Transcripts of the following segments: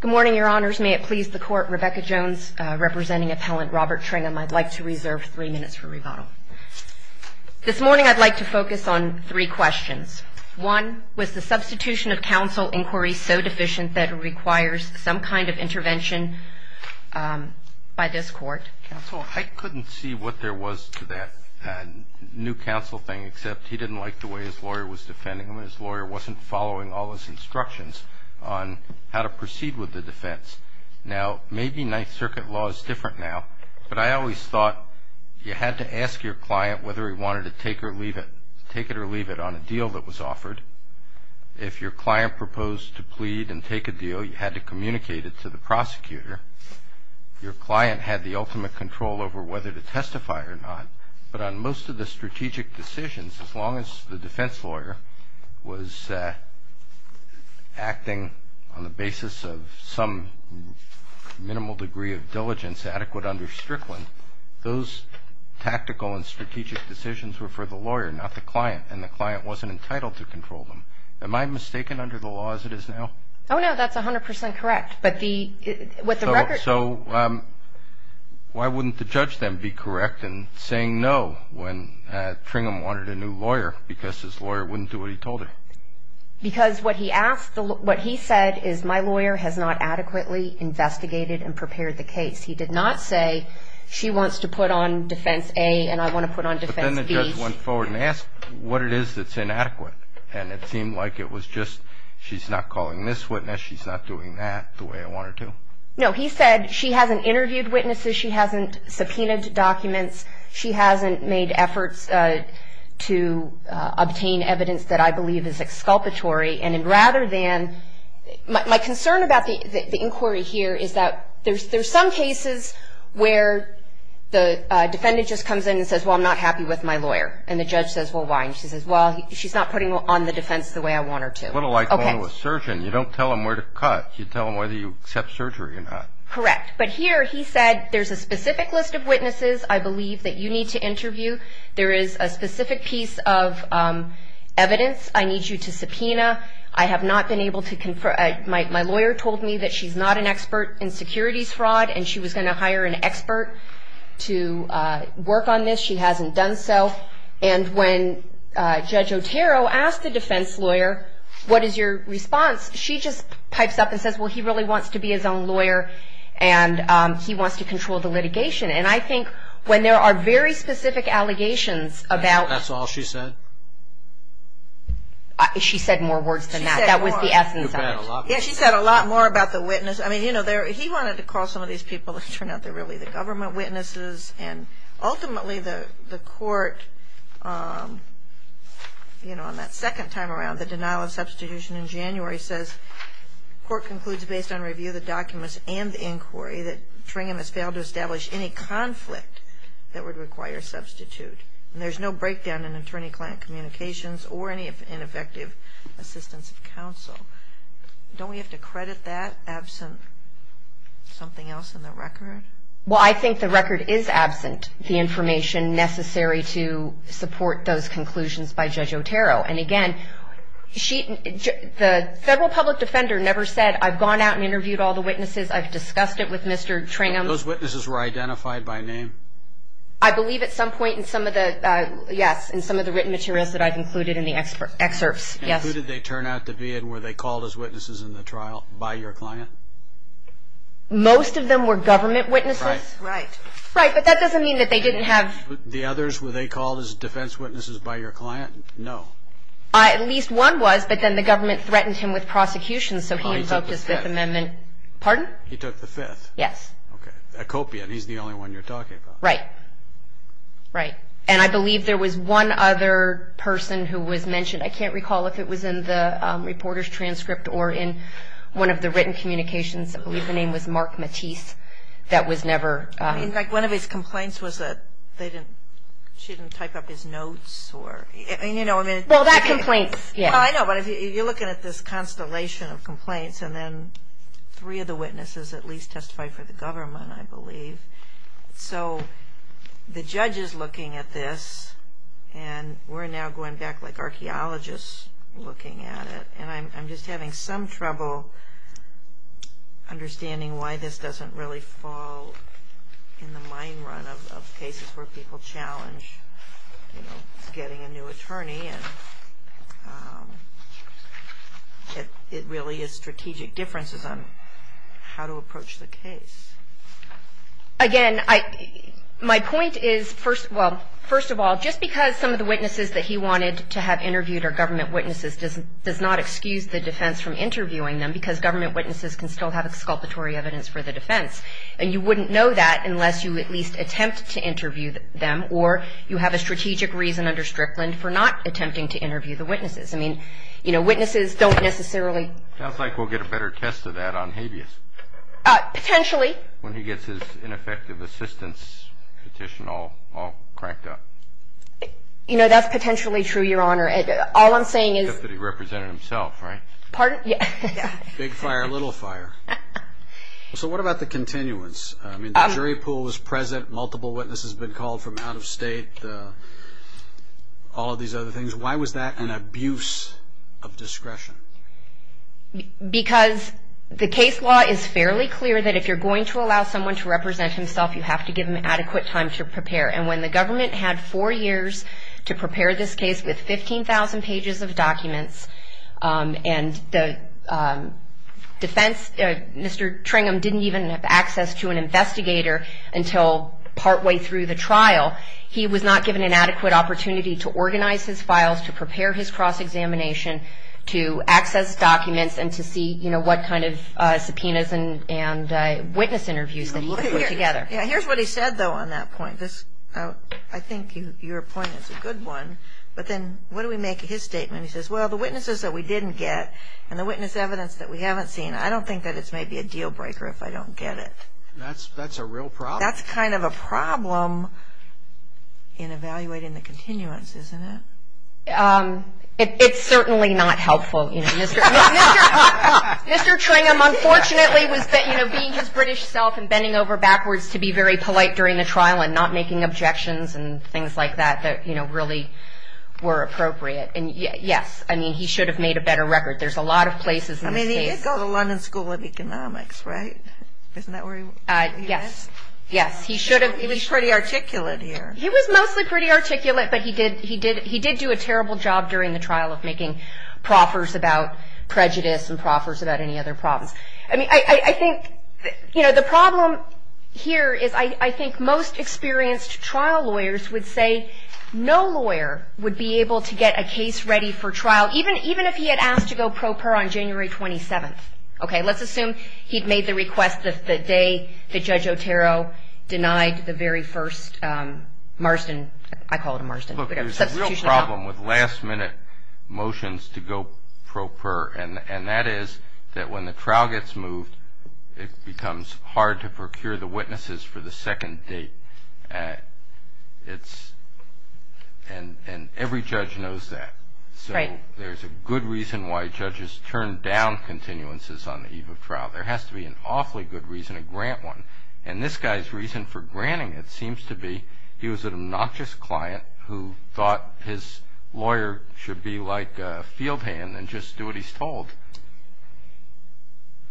Good morning, Your Honors. May it please the Court, Rebecca Jones, representing Appellant Robert Tringham. I'd like to reserve three minutes for rebuttal. This morning I'd like to focus on three questions. One, was the substitution of counsel inquiry so deficient that it requires some kind of intervention by this Court? Counsel, I couldn't see what there was to that new counsel thing, except he didn't like the way his lawyer was defending him, and his lawyer wasn't following all his instructions on how to proceed with the defense. Now, maybe Ninth Circuit law is different now, but I always thought you had to ask your client whether he wanted to take it or leave it on a deal that was offered. If your client proposed to plead and take a deal, you had to communicate it to the prosecutor. Your client had the ultimate control over whether to testify or not, but on most of the strategic decisions, as long as the defense lawyer was acting on the basis of some minimal degree of diligence adequate under Strickland, those tactical and strategic decisions were for the lawyer, not the client, and the client wasn't entitled to control them. Am I mistaken under the law as it is now? Oh, no, that's 100 percent correct, but the – what the record – So why wouldn't the judge then be correct in saying no when Tringham wanted a new lawyer because his lawyer wouldn't do what he told her? Because what he asked – what he said is, my lawyer has not adequately investigated and prepared the case. He did not say, she wants to put on defense A and I want to put on defense B. The defendant just went forward and asked what it is that's inadequate, and it seemed like it was just she's not calling this witness, she's not doing that the way I want her to. No, he said she hasn't interviewed witnesses, she hasn't subpoenaed documents, she hasn't made efforts to obtain evidence that I believe is exculpatory, and rather than – my concern about the inquiry here is that there's some cases where the defendant just comes in and says, well, I'm not happy with my lawyer, and the judge says, well, why? And she says, well, she's not putting on the defense the way I want her to. A little like going to a surgeon. You don't tell them where to cut. You tell them whether you accept surgery or not. Correct, but here he said there's a specific list of witnesses I believe that you need to interview. There is a specific piece of evidence I need you to subpoena. I have not been able to – my lawyer told me that she's not an expert in securities fraud, and she was going to hire an expert to work on this. She hasn't done so. And when Judge Otero asked the defense lawyer, what is your response, she just pipes up and says, well, he really wants to be his own lawyer, and he wants to control the litigation. And I think when there are very specific allegations about – That's all she said? She said more words than that. She said more. That was the essence of it. Yeah, she said a lot more about the witness. I mean, you know, he wanted to call some of these people, and it turned out they're really the government witnesses. And ultimately the court, you know, on that second time around, the denial of substitution in January says, court concludes based on review of the documents and the inquiry that Tringham has failed to establish any conflict that would require substitute. And there's no breakdown in attorney-client communications or any ineffective assistance of counsel. Don't we have to credit that absent something else in the record? Well, I think the record is absent, the information necessary to support those conclusions by Judge Otero. And, again, the federal public defender never said, I've gone out and interviewed all the witnesses. I've discussed it with Mr. Tringham. But those witnesses were identified by name? I believe at some point in some of the – yes, in some of the written materials that I've included in the excerpts, yes. Who did they turn out to be, and were they called as witnesses in the trial by your client? Most of them were government witnesses. Right. Right, but that doesn't mean that they didn't have – The others, were they called as defense witnesses by your client? No. At least one was, but then the government threatened him with prosecution, so he invoked his Fifth Amendment – He took the Fifth. Pardon? He took the Fifth. Yes. Okay. Okopian, he's the only one you're talking about. Right. Right. And I believe there was one other person who was mentioned. I can't recall if it was in the reporter's transcript or in one of the written communications. I believe the name was Mark Matisse. That was never – In fact, one of his complaints was that they didn't – she didn't type up his notes or – Well, that complaint – I know, but you're looking at this constellation of complaints, and then three of the witnesses at least testified for the government, I believe. So the judge is looking at this, and we're now going back like archaeologists looking at it, and I'm just having some trouble understanding why this doesn't really fall in the mine run of cases where people challenge, you know, getting a new attorney, and it really is strategic differences on how to approach the case. Again, my point is, well, first of all, just because some of the witnesses that he wanted to have interviewed are government witnesses does not excuse the defense from interviewing them because government witnesses can still have exculpatory evidence for the defense. And you wouldn't know that unless you at least attempt to interview them or you have a strategic reason under Strickland for not attempting to interview the witnesses. I mean, you know, witnesses don't necessarily – Sounds like we'll get a better test of that on habeas. Potentially. When he gets his ineffective assistance petition all cranked up. You know, that's potentially true, Your Honor. All I'm saying is – Except that he represented himself, right? Pardon? Yeah. Big fire, little fire. So what about the continuance? I mean, the jury pool was present. Multiple witnesses had been called from out of state, all of these other things. Why was that an abuse of discretion? Because the case law is fairly clear that if you're going to allow someone to represent himself, you have to give them adequate time to prepare. And when the government had four years to prepare this case with 15,000 pages of documents, and the defense, Mr. Tringham, didn't even have access to an investigator until partway through the trial, he was not given an adequate opportunity to organize his files, to prepare his cross-examination, to access documents and to see, you know, what kind of subpoenas and witness interviews that he put together. Here's what he said, though, on that point. I think your point is a good one. But then what do we make of his statement? He says, well, the witnesses that we didn't get and the witness evidence that we haven't seen, I don't think that it's maybe a deal breaker if I don't get it. That's a real problem. That's kind of a problem in evaluating the continuance, isn't it? It's certainly not helpful. Mr. Tringham, unfortunately, was being his British self and bending over backwards to be very polite during the trial and not making objections and things like that that, you know, really were appropriate. And, yes, I mean, he should have made a better record. There's a lot of places in the States. I mean, he did go to London School of Economics, right? Isn't that where he was? Yes. Yes, he should have. He was pretty articulate here. He was mostly pretty articulate, but he did do a terrible job during the trial of making proffers about prejudice and proffers about any other problems. I mean, I think, you know, the problem here is I think most experienced trial lawyers would say no lawyer would be able to get a case ready for trial, even if he had asked to go pro per on January 27th. Okay? Let's assume he'd made the request the day that Judge Otero denied the very first Marston. I call it a Marston. Look, there's a real problem with last-minute motions to go pro per, and that is that when the trial gets moved it becomes hard to procure the witnesses for the second date. It's – and every judge knows that. Right. So there's a good reason why judges turn down continuances on the eve of trial. There has to be an awfully good reason to grant one. And this guy's reason for granting it seems to be he was an obnoxious client who thought his lawyer should be like a field hand and just do what he's told.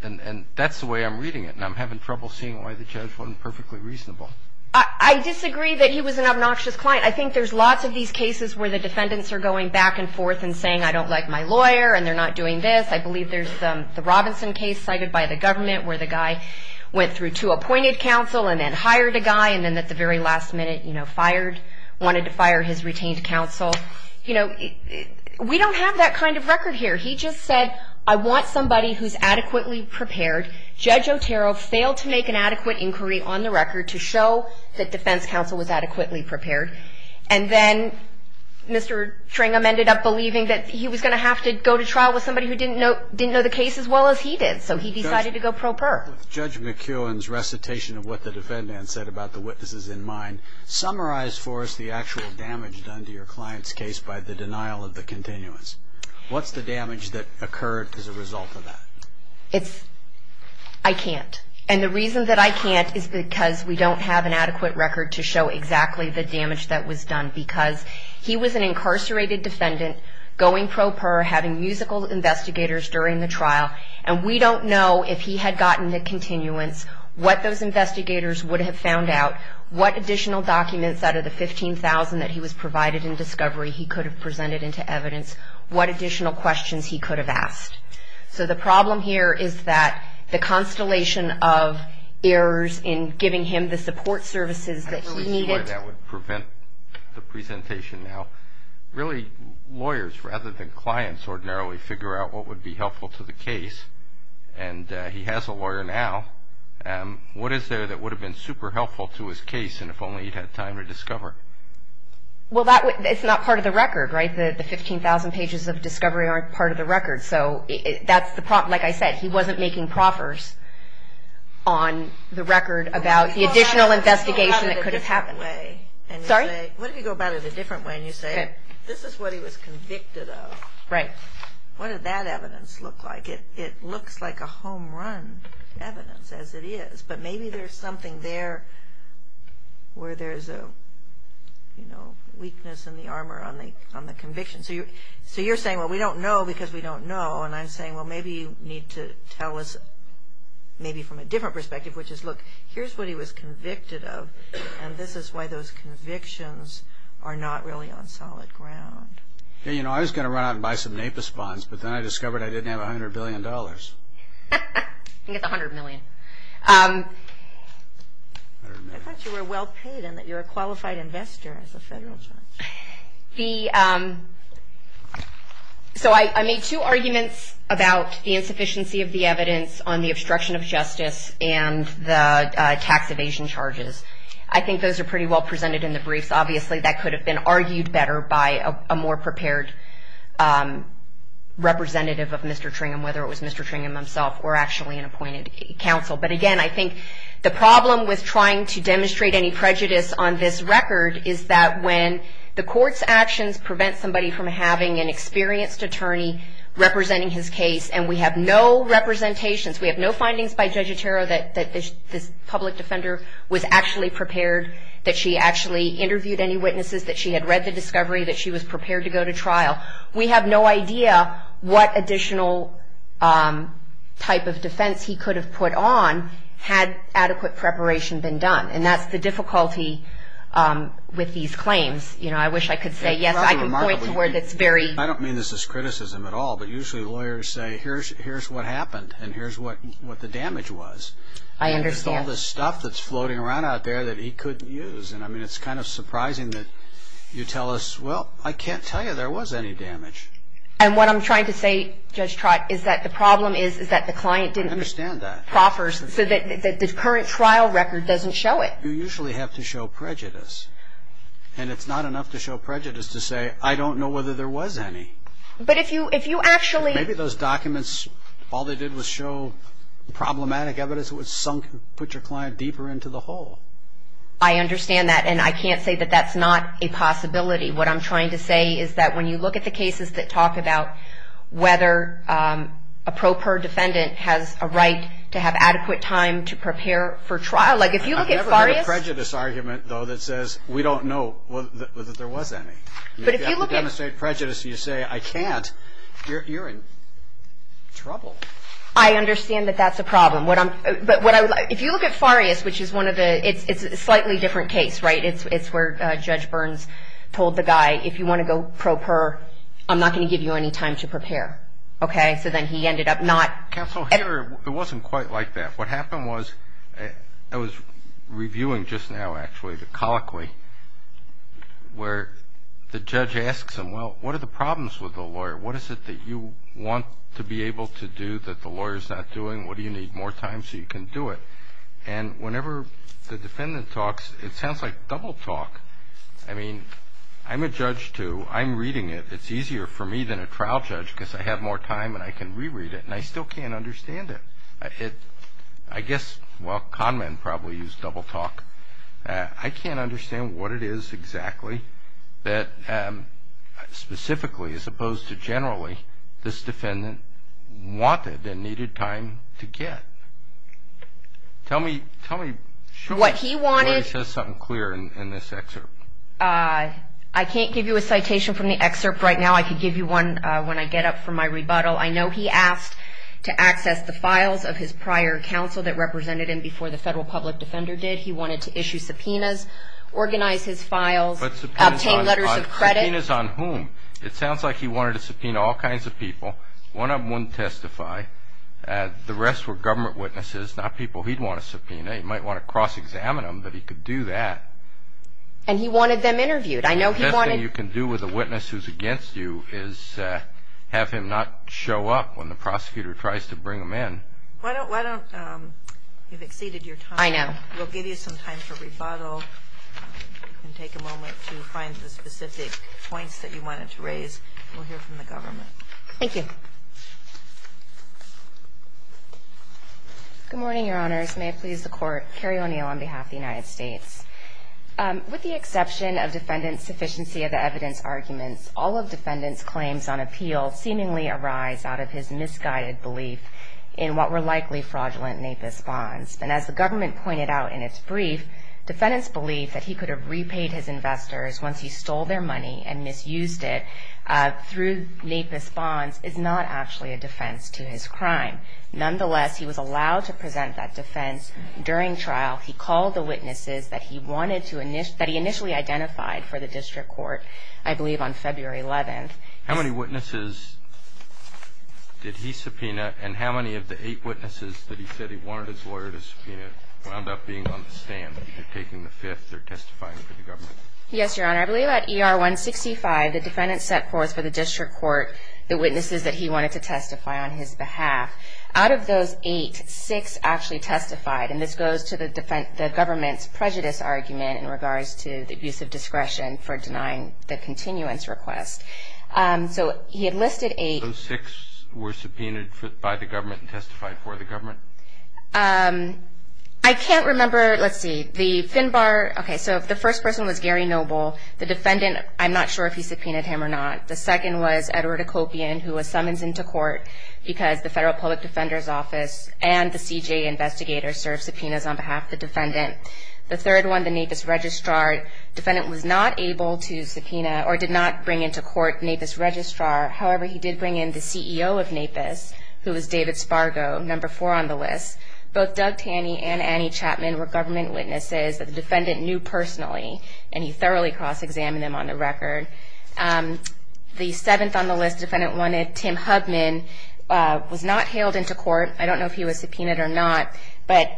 And that's the way I'm reading it, and I'm having trouble seeing why the judge wasn't perfectly reasonable. I disagree that he was an obnoxious client. I think there's lots of these cases where the defendants are going back and forth and saying, I don't like my lawyer, and they're not doing this. I believe there's the Robinson case cited by the government where the guy went through two appointed counsel and then hired a guy and then at the very last minute, you know, fired – wanted to fire his retained counsel. You know, we don't have that kind of record here. He just said, I want somebody who's adequately prepared. Judge Otero failed to make an adequate inquiry on the record to show that defense counsel was adequately prepared. And then Mr. Tringham ended up believing that he was going to have to go to trial with somebody who didn't know the case as well as he did. So he decided to go pro per. With Judge McKeown's recitation of what the defendant said about the witnesses in mind, summarize for us the actual damage done to your client's case by the denial of the continuance. What's the damage that occurred as a result of that? It's – I can't. And the reason that I can't is because we don't have an adequate record to show exactly the damage that was done because he was an incarcerated defendant going pro per, having musical investigators during the trial, and we don't know if he had gotten the continuance, what those investigators would have found out, what additional documents out of the 15,000 that he was provided in discovery he could have presented into evidence, what additional questions he could have asked. So the problem here is that the constellation of errors in giving him the support services that he needed. I see why that would prevent the presentation now. Really, lawyers rather than clients ordinarily figure out what would be helpful to the case, and he has a lawyer now. What is there that would have been super helpful to his case, and if only he'd had time to discover? Well, that – it's not part of the record, right? It's not part of the record, so that's the problem. Like I said, he wasn't making proffers on the record about the additional investigation that could have happened. Sorry? What if you go about it a different way and you say, this is what he was convicted of? Right. What did that evidence look like? It looks like a home-run evidence as it is, but maybe there's something there where there's a weakness in the armor on the conviction. So you're saying, well, we don't know because we don't know, and I'm saying, well, maybe you need to tell us maybe from a different perspective, which is, look, here's what he was convicted of, and this is why those convictions are not really on solid ground. Yeah, you know, I was going to run out and buy some NAPIS funds, but then I discovered I didn't have $100 billion. I think it's $100 million. I thought you were well-paid and that you're a qualified investor as a federal judge. So I made two arguments about the insufficiency of the evidence on the obstruction of justice and the tax evasion charges. I think those are pretty well presented in the briefs. Obviously, that could have been argued better by a more prepared representative of Mr. Tringham, whether it was Mr. Tringham himself or actually an appointed counsel. But, again, I think the problem with trying to demonstrate any prejudice on this record is that when the court's actions prevent somebody from having an experienced attorney representing his case and we have no representations, we have no findings by Judge Etero that this public defender was actually prepared, that she actually interviewed any witnesses, that she had read the discovery, that she was prepared to go to trial, we have no idea what additional type of defense he could have put on had adequate preparation been done. And that's the difficulty with these claims. You know, I wish I could say, yes, I can point to where that's very... I don't mean this as criticism at all, but usually lawyers say, here's what happened and here's what the damage was. I understand. And there's all this stuff that's floating around out there that he couldn't use. And, I mean, it's kind of surprising that you tell us, well, I can't tell you there was any damage. And what I'm trying to say, Judge Trott, is that the problem is that the client didn't... I understand that. ...proffers so that the current trial record doesn't show it. You usually have to show prejudice. And it's not enough to show prejudice to say, I don't know whether there was any. But if you actually... Maybe those documents, all they did was show problematic evidence that was sunk, put your client deeper into the hole. I understand that. And I can't say that that's not a possibility. What I'm trying to say is that when you look at the cases that talk about whether a pro per defendant has a right to have adequate time to prepare for trial, like if you look at Farias... I've never heard a prejudice argument, though, that says, we don't know whether there was any. But if you look at... You have to demonstrate prejudice. You say, I can't. You're in trouble. I understand that that's a problem. But if you look at Farias, which is one of the... It's a slightly different case, right? It's where Judge Burns told the guy, if you want to go pro per, I'm not going to give you any time to prepare. Okay? So then he ended up not... Counsel, it wasn't quite like that. What happened was I was reviewing just now, actually, the colloquy, where the judge asks him, well, what are the problems with the lawyer? What is it that you want to be able to do that the lawyer is not doing? What do you need? More time so you can do it? And whenever the defendant talks, it sounds like double talk. I mean, I'm a judge, too. I'm reading it. It's easier for me than a trial judge because I have more time and I can reread it. And I still can't understand it. I guess, well, con men probably use double talk. I can't understand what it is exactly that specifically, as opposed to generally, this defendant wanted and needed time to get. Tell me, show us where he says something clear in this excerpt. I can't give you a citation from the excerpt right now. I could give you one when I get up from my rebuttal. I know he asked to access the files of his prior counsel that represented him before the federal public defender did. He wanted to issue subpoenas, organize his files, obtain letters of credit. Subpoenas on whom? It sounds like he wanted to subpoena all kinds of people. One of them wouldn't testify. The rest were government witnesses, not people he'd want to subpoena. He might want to cross-examine them, but he could do that. And he wanted them interviewed. The best thing you can do with a witness who's against you is have him not show up when the prosecutor tries to bring him in. Why don't you've exceeded your time. I know. We'll give you some time for rebuttal. You can take a moment to find the specific points that you wanted to raise. We'll hear from the government. Thank you. Good morning, Your Honors. May it please the Court. Carrie O'Neill on behalf of the United States. With the exception of defendant's sufficiency of the evidence arguments, all of defendant's claims on appeal seemingly arise out of his misguided belief in what were likely fraudulent NAPIS bonds. And as the government pointed out in its brief, defendant's belief that he could have repaid his investors once he stole their money and misused it through NAPIS bonds is not actually a defense to his crime. Nonetheless, he was allowed to present that defense during trial. He called the witnesses that he initially identified for the district court, I believe on February 11th. How many witnesses did he subpoena, and how many of the eight witnesses that he said he wanted his lawyer to subpoena wound up being on the stand, either taking the fifth or testifying for the government? Yes, Your Honor. I believe at ER 165, the defendant set course for the district court the witnesses that he wanted to testify on his behalf. Out of those eight, six actually testified. And this goes to the government's prejudice argument in regards to the abuse of discretion for denying the continuance request. So he had listed eight. Those six were subpoenaed by the government and testified for the government? I can't remember. Let's see. The Finbar, okay, so the first person was Gary Noble. The defendant, I'm not sure if he subpoenaed him or not. The second was Edward Okopian, who was summoned into court because the Federal Public Defender's Office and the CJ investigators served subpoenas on behalf of the defendant. The third one, the NAPIS Registrar. The defendant was not able to subpoena or did not bring into court NAPIS Registrar. However, he did bring in the CEO of NAPIS, who was David Spargo, number four on the list. Both Doug Tanney and Annie Chapman were government witnesses that the defendant knew personally, and he thoroughly cross-examined them on the record. The seventh on the list, defendant wanted Tim Hubman, was not hailed into court. I don't know if he was subpoenaed or not. But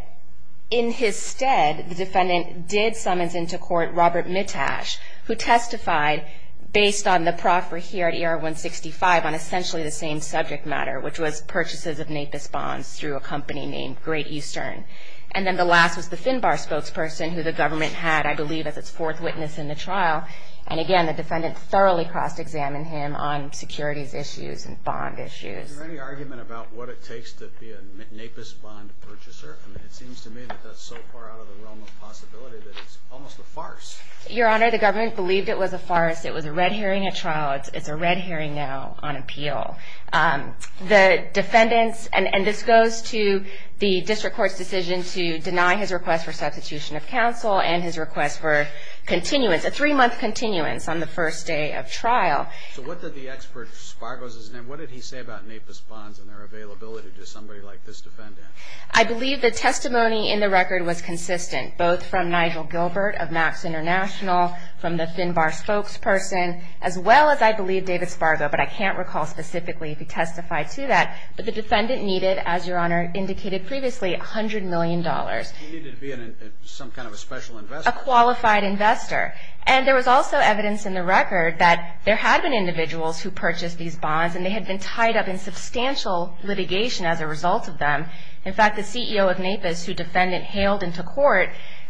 in his stead, the defendant did summons into court Robert Mitash, who testified based on the proffer here at ER-165 on essentially the same subject matter, which was purchases of NAPIS bonds through a company named Great Eastern. And then the last was the Finbar spokesperson, who the government had, I believe, as its fourth witness in the trial. And again, the defendant thoroughly cross-examined him on securities issues and bond issues. Is there any argument about what it takes to be a NAPIS bond purchaser? I mean, it seems to me that that's so far out of the realm of possibility that it's almost a farce. Your Honor, the government believed it was a farce. It was a red herring at trial. It's a red herring now on appeal. The defendants, and this goes to the district court's decision to deny his request for substitution of counsel and his request for continuance, a three-month continuance on the first day of trial. So what did the expert, Spargo is his name, what did he say about NAPIS bonds and their availability to somebody like this defendant? I believe the testimony in the record was consistent, both from Nigel Gilbert of Max International, from the Finbar spokesperson, as well as, I believe, David Spargo, but I can't recall specifically if he testified to that. But the defendant needed, as Your Honor indicated previously, $100 million. He needed to be some kind of a special investor. A qualified investor. And there was also evidence in the record that there had been individuals who purchased these bonds, and they had been tied up in substantial litigation as a result of them. In fact, the CEO of NAPIS, who defendant hailed into court,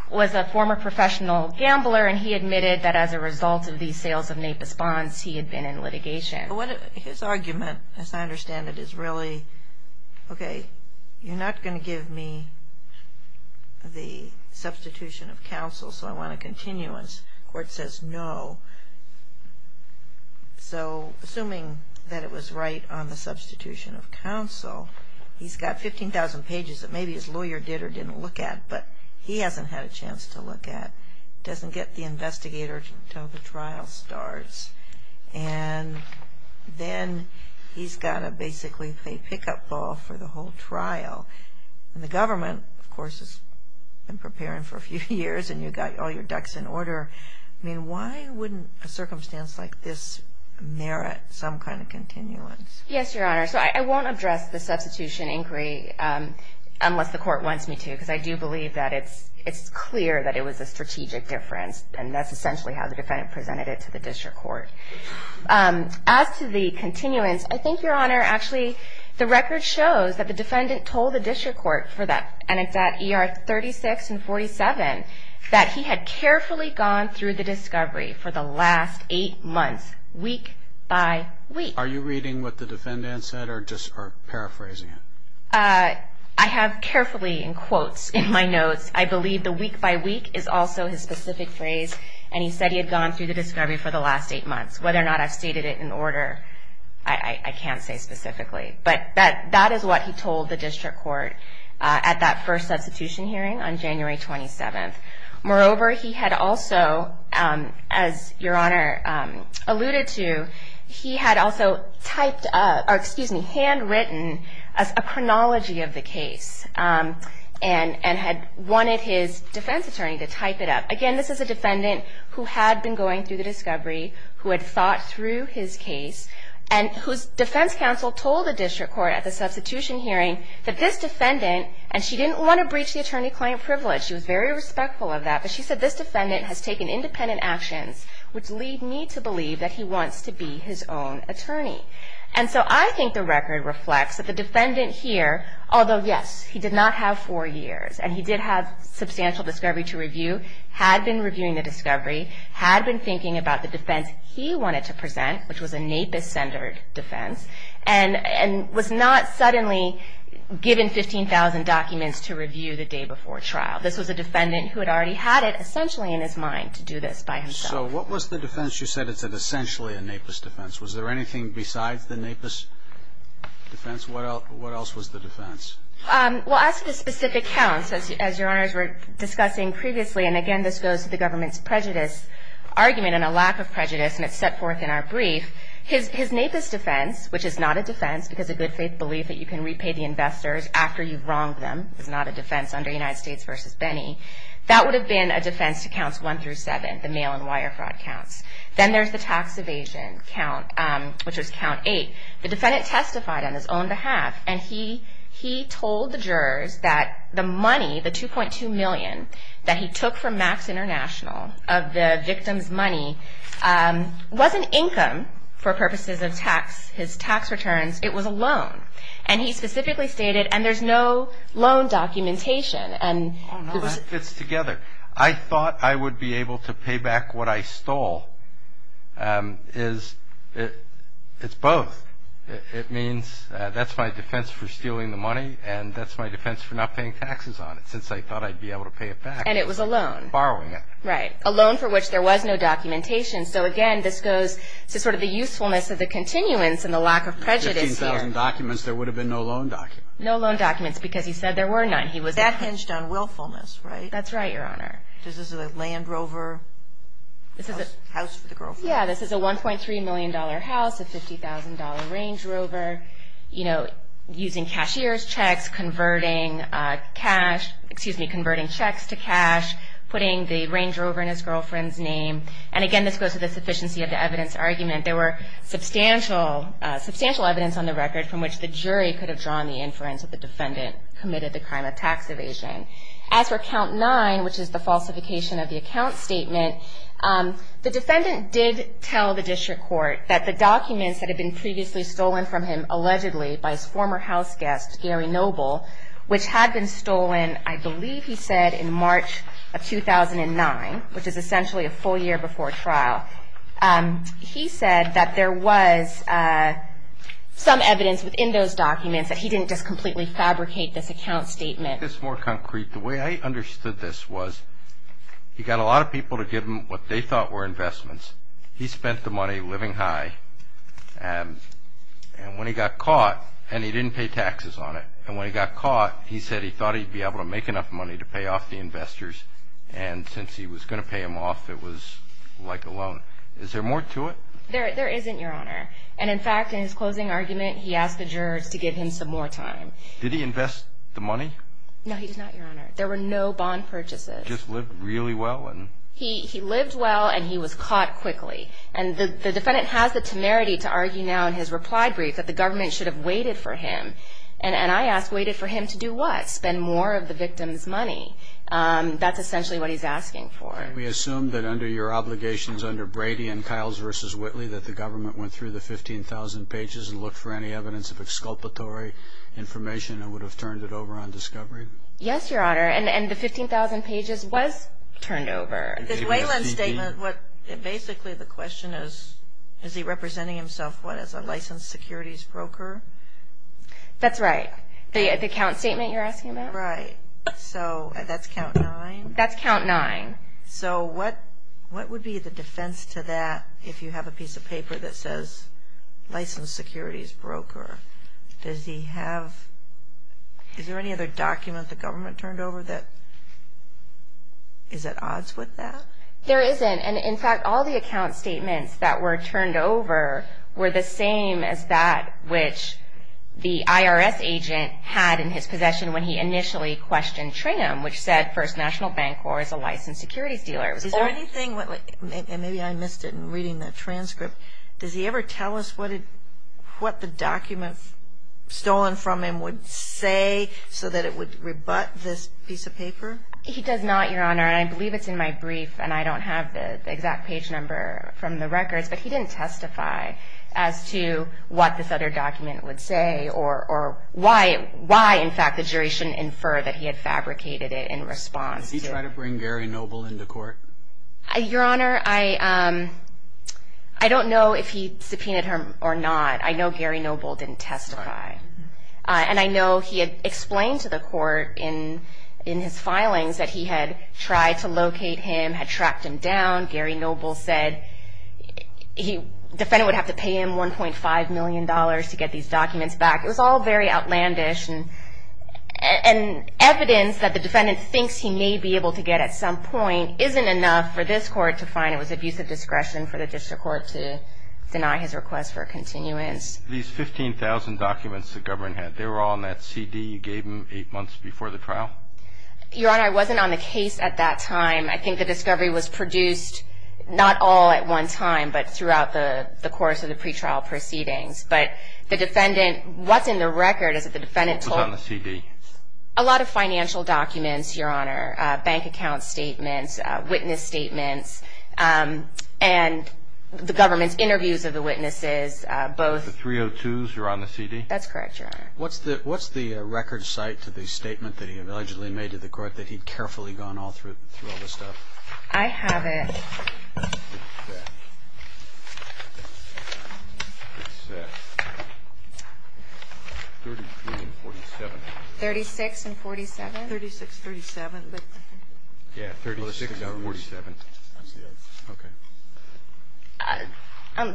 was a former professional gambler, and he admitted that as a result of these sales of NAPIS bonds, he had been in litigation. His argument, as I understand it, is really, okay, you're not going to give me the substitution of counsel, so I want a continuance. The court says no. So assuming that it was right on the substitution of counsel, he's got 15,000 pages that maybe his lawyer did or didn't look at, but he hasn't had a chance to look at. Doesn't get the investigator until the trial starts. And then he's got to basically play pick-up ball for the whole trial. And the government, of course, has been preparing for a few years, and you've got all your ducks in order. I mean, why wouldn't a circumstance like this merit some kind of continuance? Yes, Your Honor. So I won't address the substitution inquiry unless the court wants me to, because I do believe that it's clear that it was a strategic difference, and that's essentially how the defendant presented it to the district court. As to the continuance, I think, Your Honor, actually the record shows that the defendant told the district court, and it's at ER 36 and 47, that he had carefully gone through the discovery for the last eight months, week by week. Are you reading what the defendant said or just paraphrasing it? I have carefully in quotes in my notes, I believe the week by week is also his specific phrase, and he said he had gone through the discovery for the last eight months. Whether or not I've stated it in order, I can't say specifically. But that is what he told the district court at that first substitution hearing on January 27th. Moreover, he had also, as Your Honor alluded to, he had also handwritten a chronology of the case and had wanted his defense attorney to type it up. Again, this is a defendant who had been going through the discovery, who had thought through his case, and whose defense counsel told the district court at the substitution hearing that this defendant, and she didn't want to breach the attorney-client privilege, she was very respectful of that, but she said this defendant has taken independent actions, which lead me to believe that he wants to be his own attorney. And so I think the record reflects that the defendant here, although yes, he did not have four years, and he did have substantial discovery to review, had been reviewing the discovery, had been thinking about the defense he wanted to present, which was a NAPIS-centered defense, and was not suddenly given 15,000 documents to review the day before trial. This was a defendant who had already had it essentially in his mind to do this by himself. So what was the defense? You said it's essentially a NAPIS defense. Was there anything besides the NAPIS defense? What else was the defense? Well, as to the specific counts, as Your Honors were discussing previously, and again this goes to the government's prejudice argument and a lack of prejudice, and it's set forth in our brief, his NAPIS defense, which is not a defense because of good faith belief that you can repay the investors after you've wronged them, is not a defense under United States v. Benny. That would have been a defense to counts one through seven, the mail and wire fraud counts. Then there's the tax evasion count, which was count eight. The defendant testified on his own behalf, and he told the jurors that the money, the $2.2 million, that he took from Max International of the victim's money wasn't income for purposes of his tax returns. It was a loan. And he specifically stated, and there's no loan documentation. Oh, no, that fits together. I thought I would be able to pay back what I stole. It's both. It means that's my defense for stealing the money, and that's my defense for not paying taxes on it since I thought I'd be able to pay it back. And it was a loan. Borrowing it. Right, a loan for which there was no documentation. So, again, this goes to sort of the usefulness of the continuance and the lack of prejudice here. Fifteen thousand documents, there would have been no loan documents. No loan documents because he said there were none. That hinged on willfulness, right? That's right, Your Honor. This is a Land Rover house for the girlfriend. Yeah, this is a $1.3 million house, a $50,000 Range Rover. You know, using cashier's checks, converting checks to cash, putting the Range Rover in his girlfriend's name. And, again, this goes to the sufficiency of the evidence argument. There were substantial evidence on the record from which the jury could have drawn the inference that the defendant committed the crime of tax evasion. As for count nine, which is the falsification of the account statement, the defendant did tell the district court that the documents that had been previously stolen from him, allegedly by his former house guest, Gary Noble, which had been stolen, I believe he said, in March of 2009, which is essentially a full year before trial. He said that there was some evidence in those documents that he didn't just completely fabricate this account statement. To make this more concrete, the way I understood this was he got a lot of people to give him what they thought were investments. He spent the money living high, and when he got caught, and he didn't pay taxes on it, and when he got caught, he said he thought he'd be able to make enough money to pay off the investors, and since he was going to pay them off, it was like a loan. Is there more to it? There isn't, Your Honor. And, in fact, in his closing argument, he asked the jurors to give him some more time. Did he invest the money? No, he did not, Your Honor. There were no bond purchases. He just lived really well? He lived well, and he was caught quickly. And the defendant has the temerity to argue now in his reply brief that the government should have waited for him. And I ask, waited for him to do what? Spend more of the victim's money? That's essentially what he's asking for. And we assume that under your obligations under Brady and Kiles v. Whitley that the government went through the 15,000 pages and looked for any evidence of exculpatory information that would have turned it over on discovery? Yes, Your Honor, and the 15,000 pages was turned over. In Wayland's statement, basically the question is, is he representing himself, what, as a licensed securities broker? That's right. The account statement you're asking about? Right. So that's count nine? That's count nine. So what would be the defense to that if you have a piece of paper that says licensed securities broker? Does he have, is there any other document the government turned over that, is at odds with that? There isn't. And, in fact, all the account statements that were turned over were the same as that which the IRS agent had in his possession when he initially questioned Tringham, which said First National Bank Corp. is a licensed securities dealer. Is there anything, and maybe I missed it in reading that transcript, does he ever tell us what the document stolen from him would say so that it would rebut this piece of paper? He does not, Your Honor, and I believe it's in my brief, and I don't have the exact page number from the records, but he didn't testify as to what this other document would say or why, in fact, the jury shouldn't infer that he had fabricated it in response to it. Did he try to bring Gary Noble into court? Your Honor, I don't know if he subpoenaed her or not. I know Gary Noble didn't testify. And I know he had explained to the court in his filings that he had tried to locate him, had tracked him down. Gary Noble said the defendant would have to pay him $1.5 million to get these documents back. It was all very outlandish, and evidence that the defendant thinks he may be able to get at some point isn't enough for this court to find. It was abusive discretion for the district court to deny his request for a continuance. These 15,000 documents that Govrin had, they were all in that CD you gave him eight months before the trial? Your Honor, I wasn't on the case at that time. I think the discovery was produced not all at one time, but throughout the course of the pretrial proceedings. But the defendant, what's in the record is that the defendant told- What was on the CD? A lot of financial documents, Your Honor, bank account statements, witness statements, and the government's interviews of the witnesses, both- The 302s were on the CD? That's correct, Your Honor. What's the record cite to the statement that he allegedly made to the court that he'd carefully gone all through all this stuff? I have it. 36 and 47? 36, 37, but- Yeah, 36 and 47.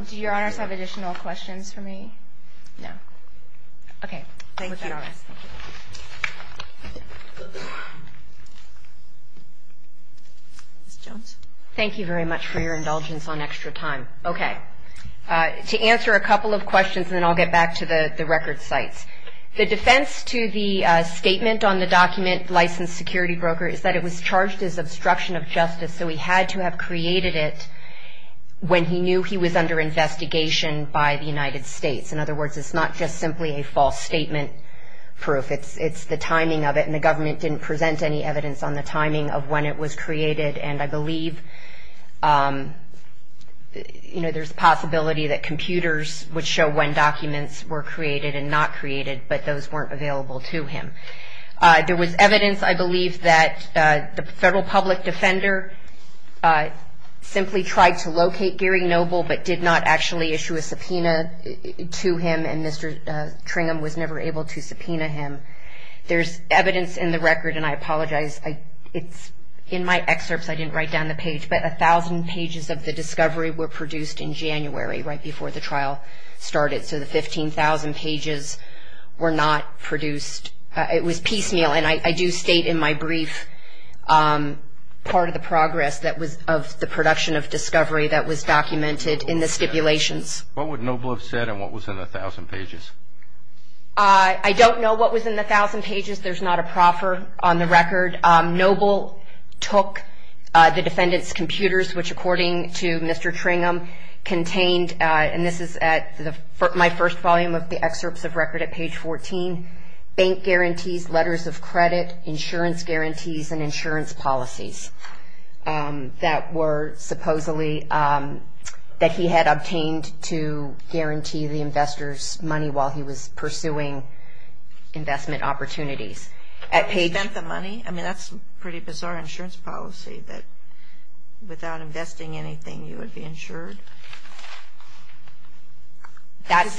Do Your Honors have additional questions for me? No. Okay. Ms. Jones? Thank you very much for your indulgence on extra time. Okay. To answer a couple of questions, and then I'll get back to the record cites. The defense to the statement on the document, Licensed Security Broker, is that it was charged as obstruction of justice, so he had to have created it when he knew he was under investigation by the United States. In other words, it's not just simply a false statement proof. It's the timing of it, and the government didn't present any evidence on the timing of when it was created, and I believe there's a possibility that computers would show when documents were created and not created, but those weren't available to him. There was evidence, I believe, that the federal public defender simply tried to locate Gary Noble, but did not actually issue a subpoena to him, and Mr. Tringham was never able to subpoena him. There's evidence in the record, and I apologize. In my excerpts, I didn't write down the page, but 1,000 pages of the discovery were produced in January, right before the trial started, so the 15,000 pages were not produced. It was piecemeal, and I do state in my brief part of the progress of the production of discovery that was documented in the stipulations. What would Noble have said in what was in the 1,000 pages? I don't know what was in the 1,000 pages. There's not a proffer on the record. Noble took the defendant's computers, which, according to Mr. Tringham, contained, and this is at my first volume of the excerpts of record at page 14, bank guarantees, letters of credit, insurance guarantees, and insurance policies that were supposedly that he had obtained to guarantee the investor's money while he was pursuing investment opportunities. He spent the money? I mean, that's pretty bizarre insurance policy, that without investing anything, you would be insured. That's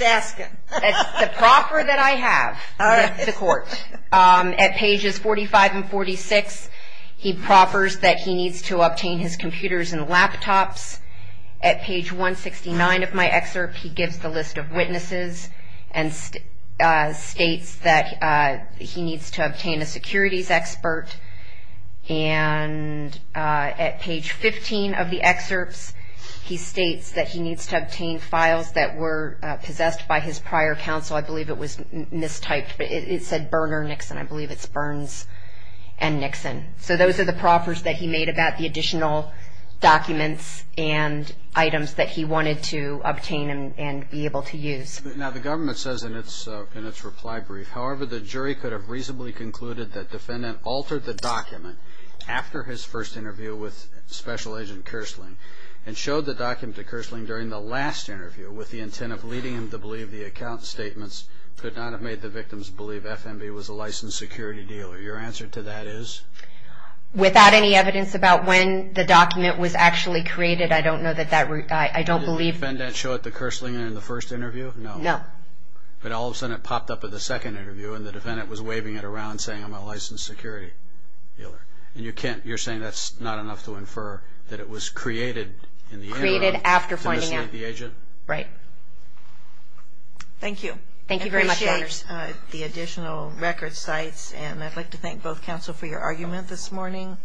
the proffer that I have with the court. At pages 45 and 46, he proffers that he needs to obtain his computers and laptops. At page 169 of my excerpt, he gives the list of witnesses and states that he needs to obtain a securities expert. And at page 15 of the excerpts, he states that he needs to obtain files that were possessed by his prior counsel. I believe it was mistyped, but it said Berner, Nixon. I believe it's Burns and Nixon. So those are the proffers that he made about the additional documents and items that he wanted to obtain and be able to use. Now, the government says in its reply brief, however, the jury could have reasonably concluded that defendant altered the document after his first interview with Special Agent Kersling and showed the document to Kersling during the last interview with the intent of leading him to believe the account statements could not have made the victims believe FNB was a licensed security dealer. Your answer to that is? Without any evidence about when the document was actually created, I don't know that that, I don't believe. Did the defendant show it to Kersling in the first interview? No. But all of a sudden it popped up in the second interview and the defendant was waving it around saying I'm a licensed security dealer. And you're saying that's not enough to infer that it was created in the interim to mislead the agent? Right. Thank you. Thank you very much. I appreciate the additional record sites, and I'd like to thank both counsel for your argument this morning.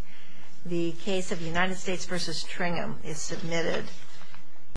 The case of United States v. Tringham is submitted.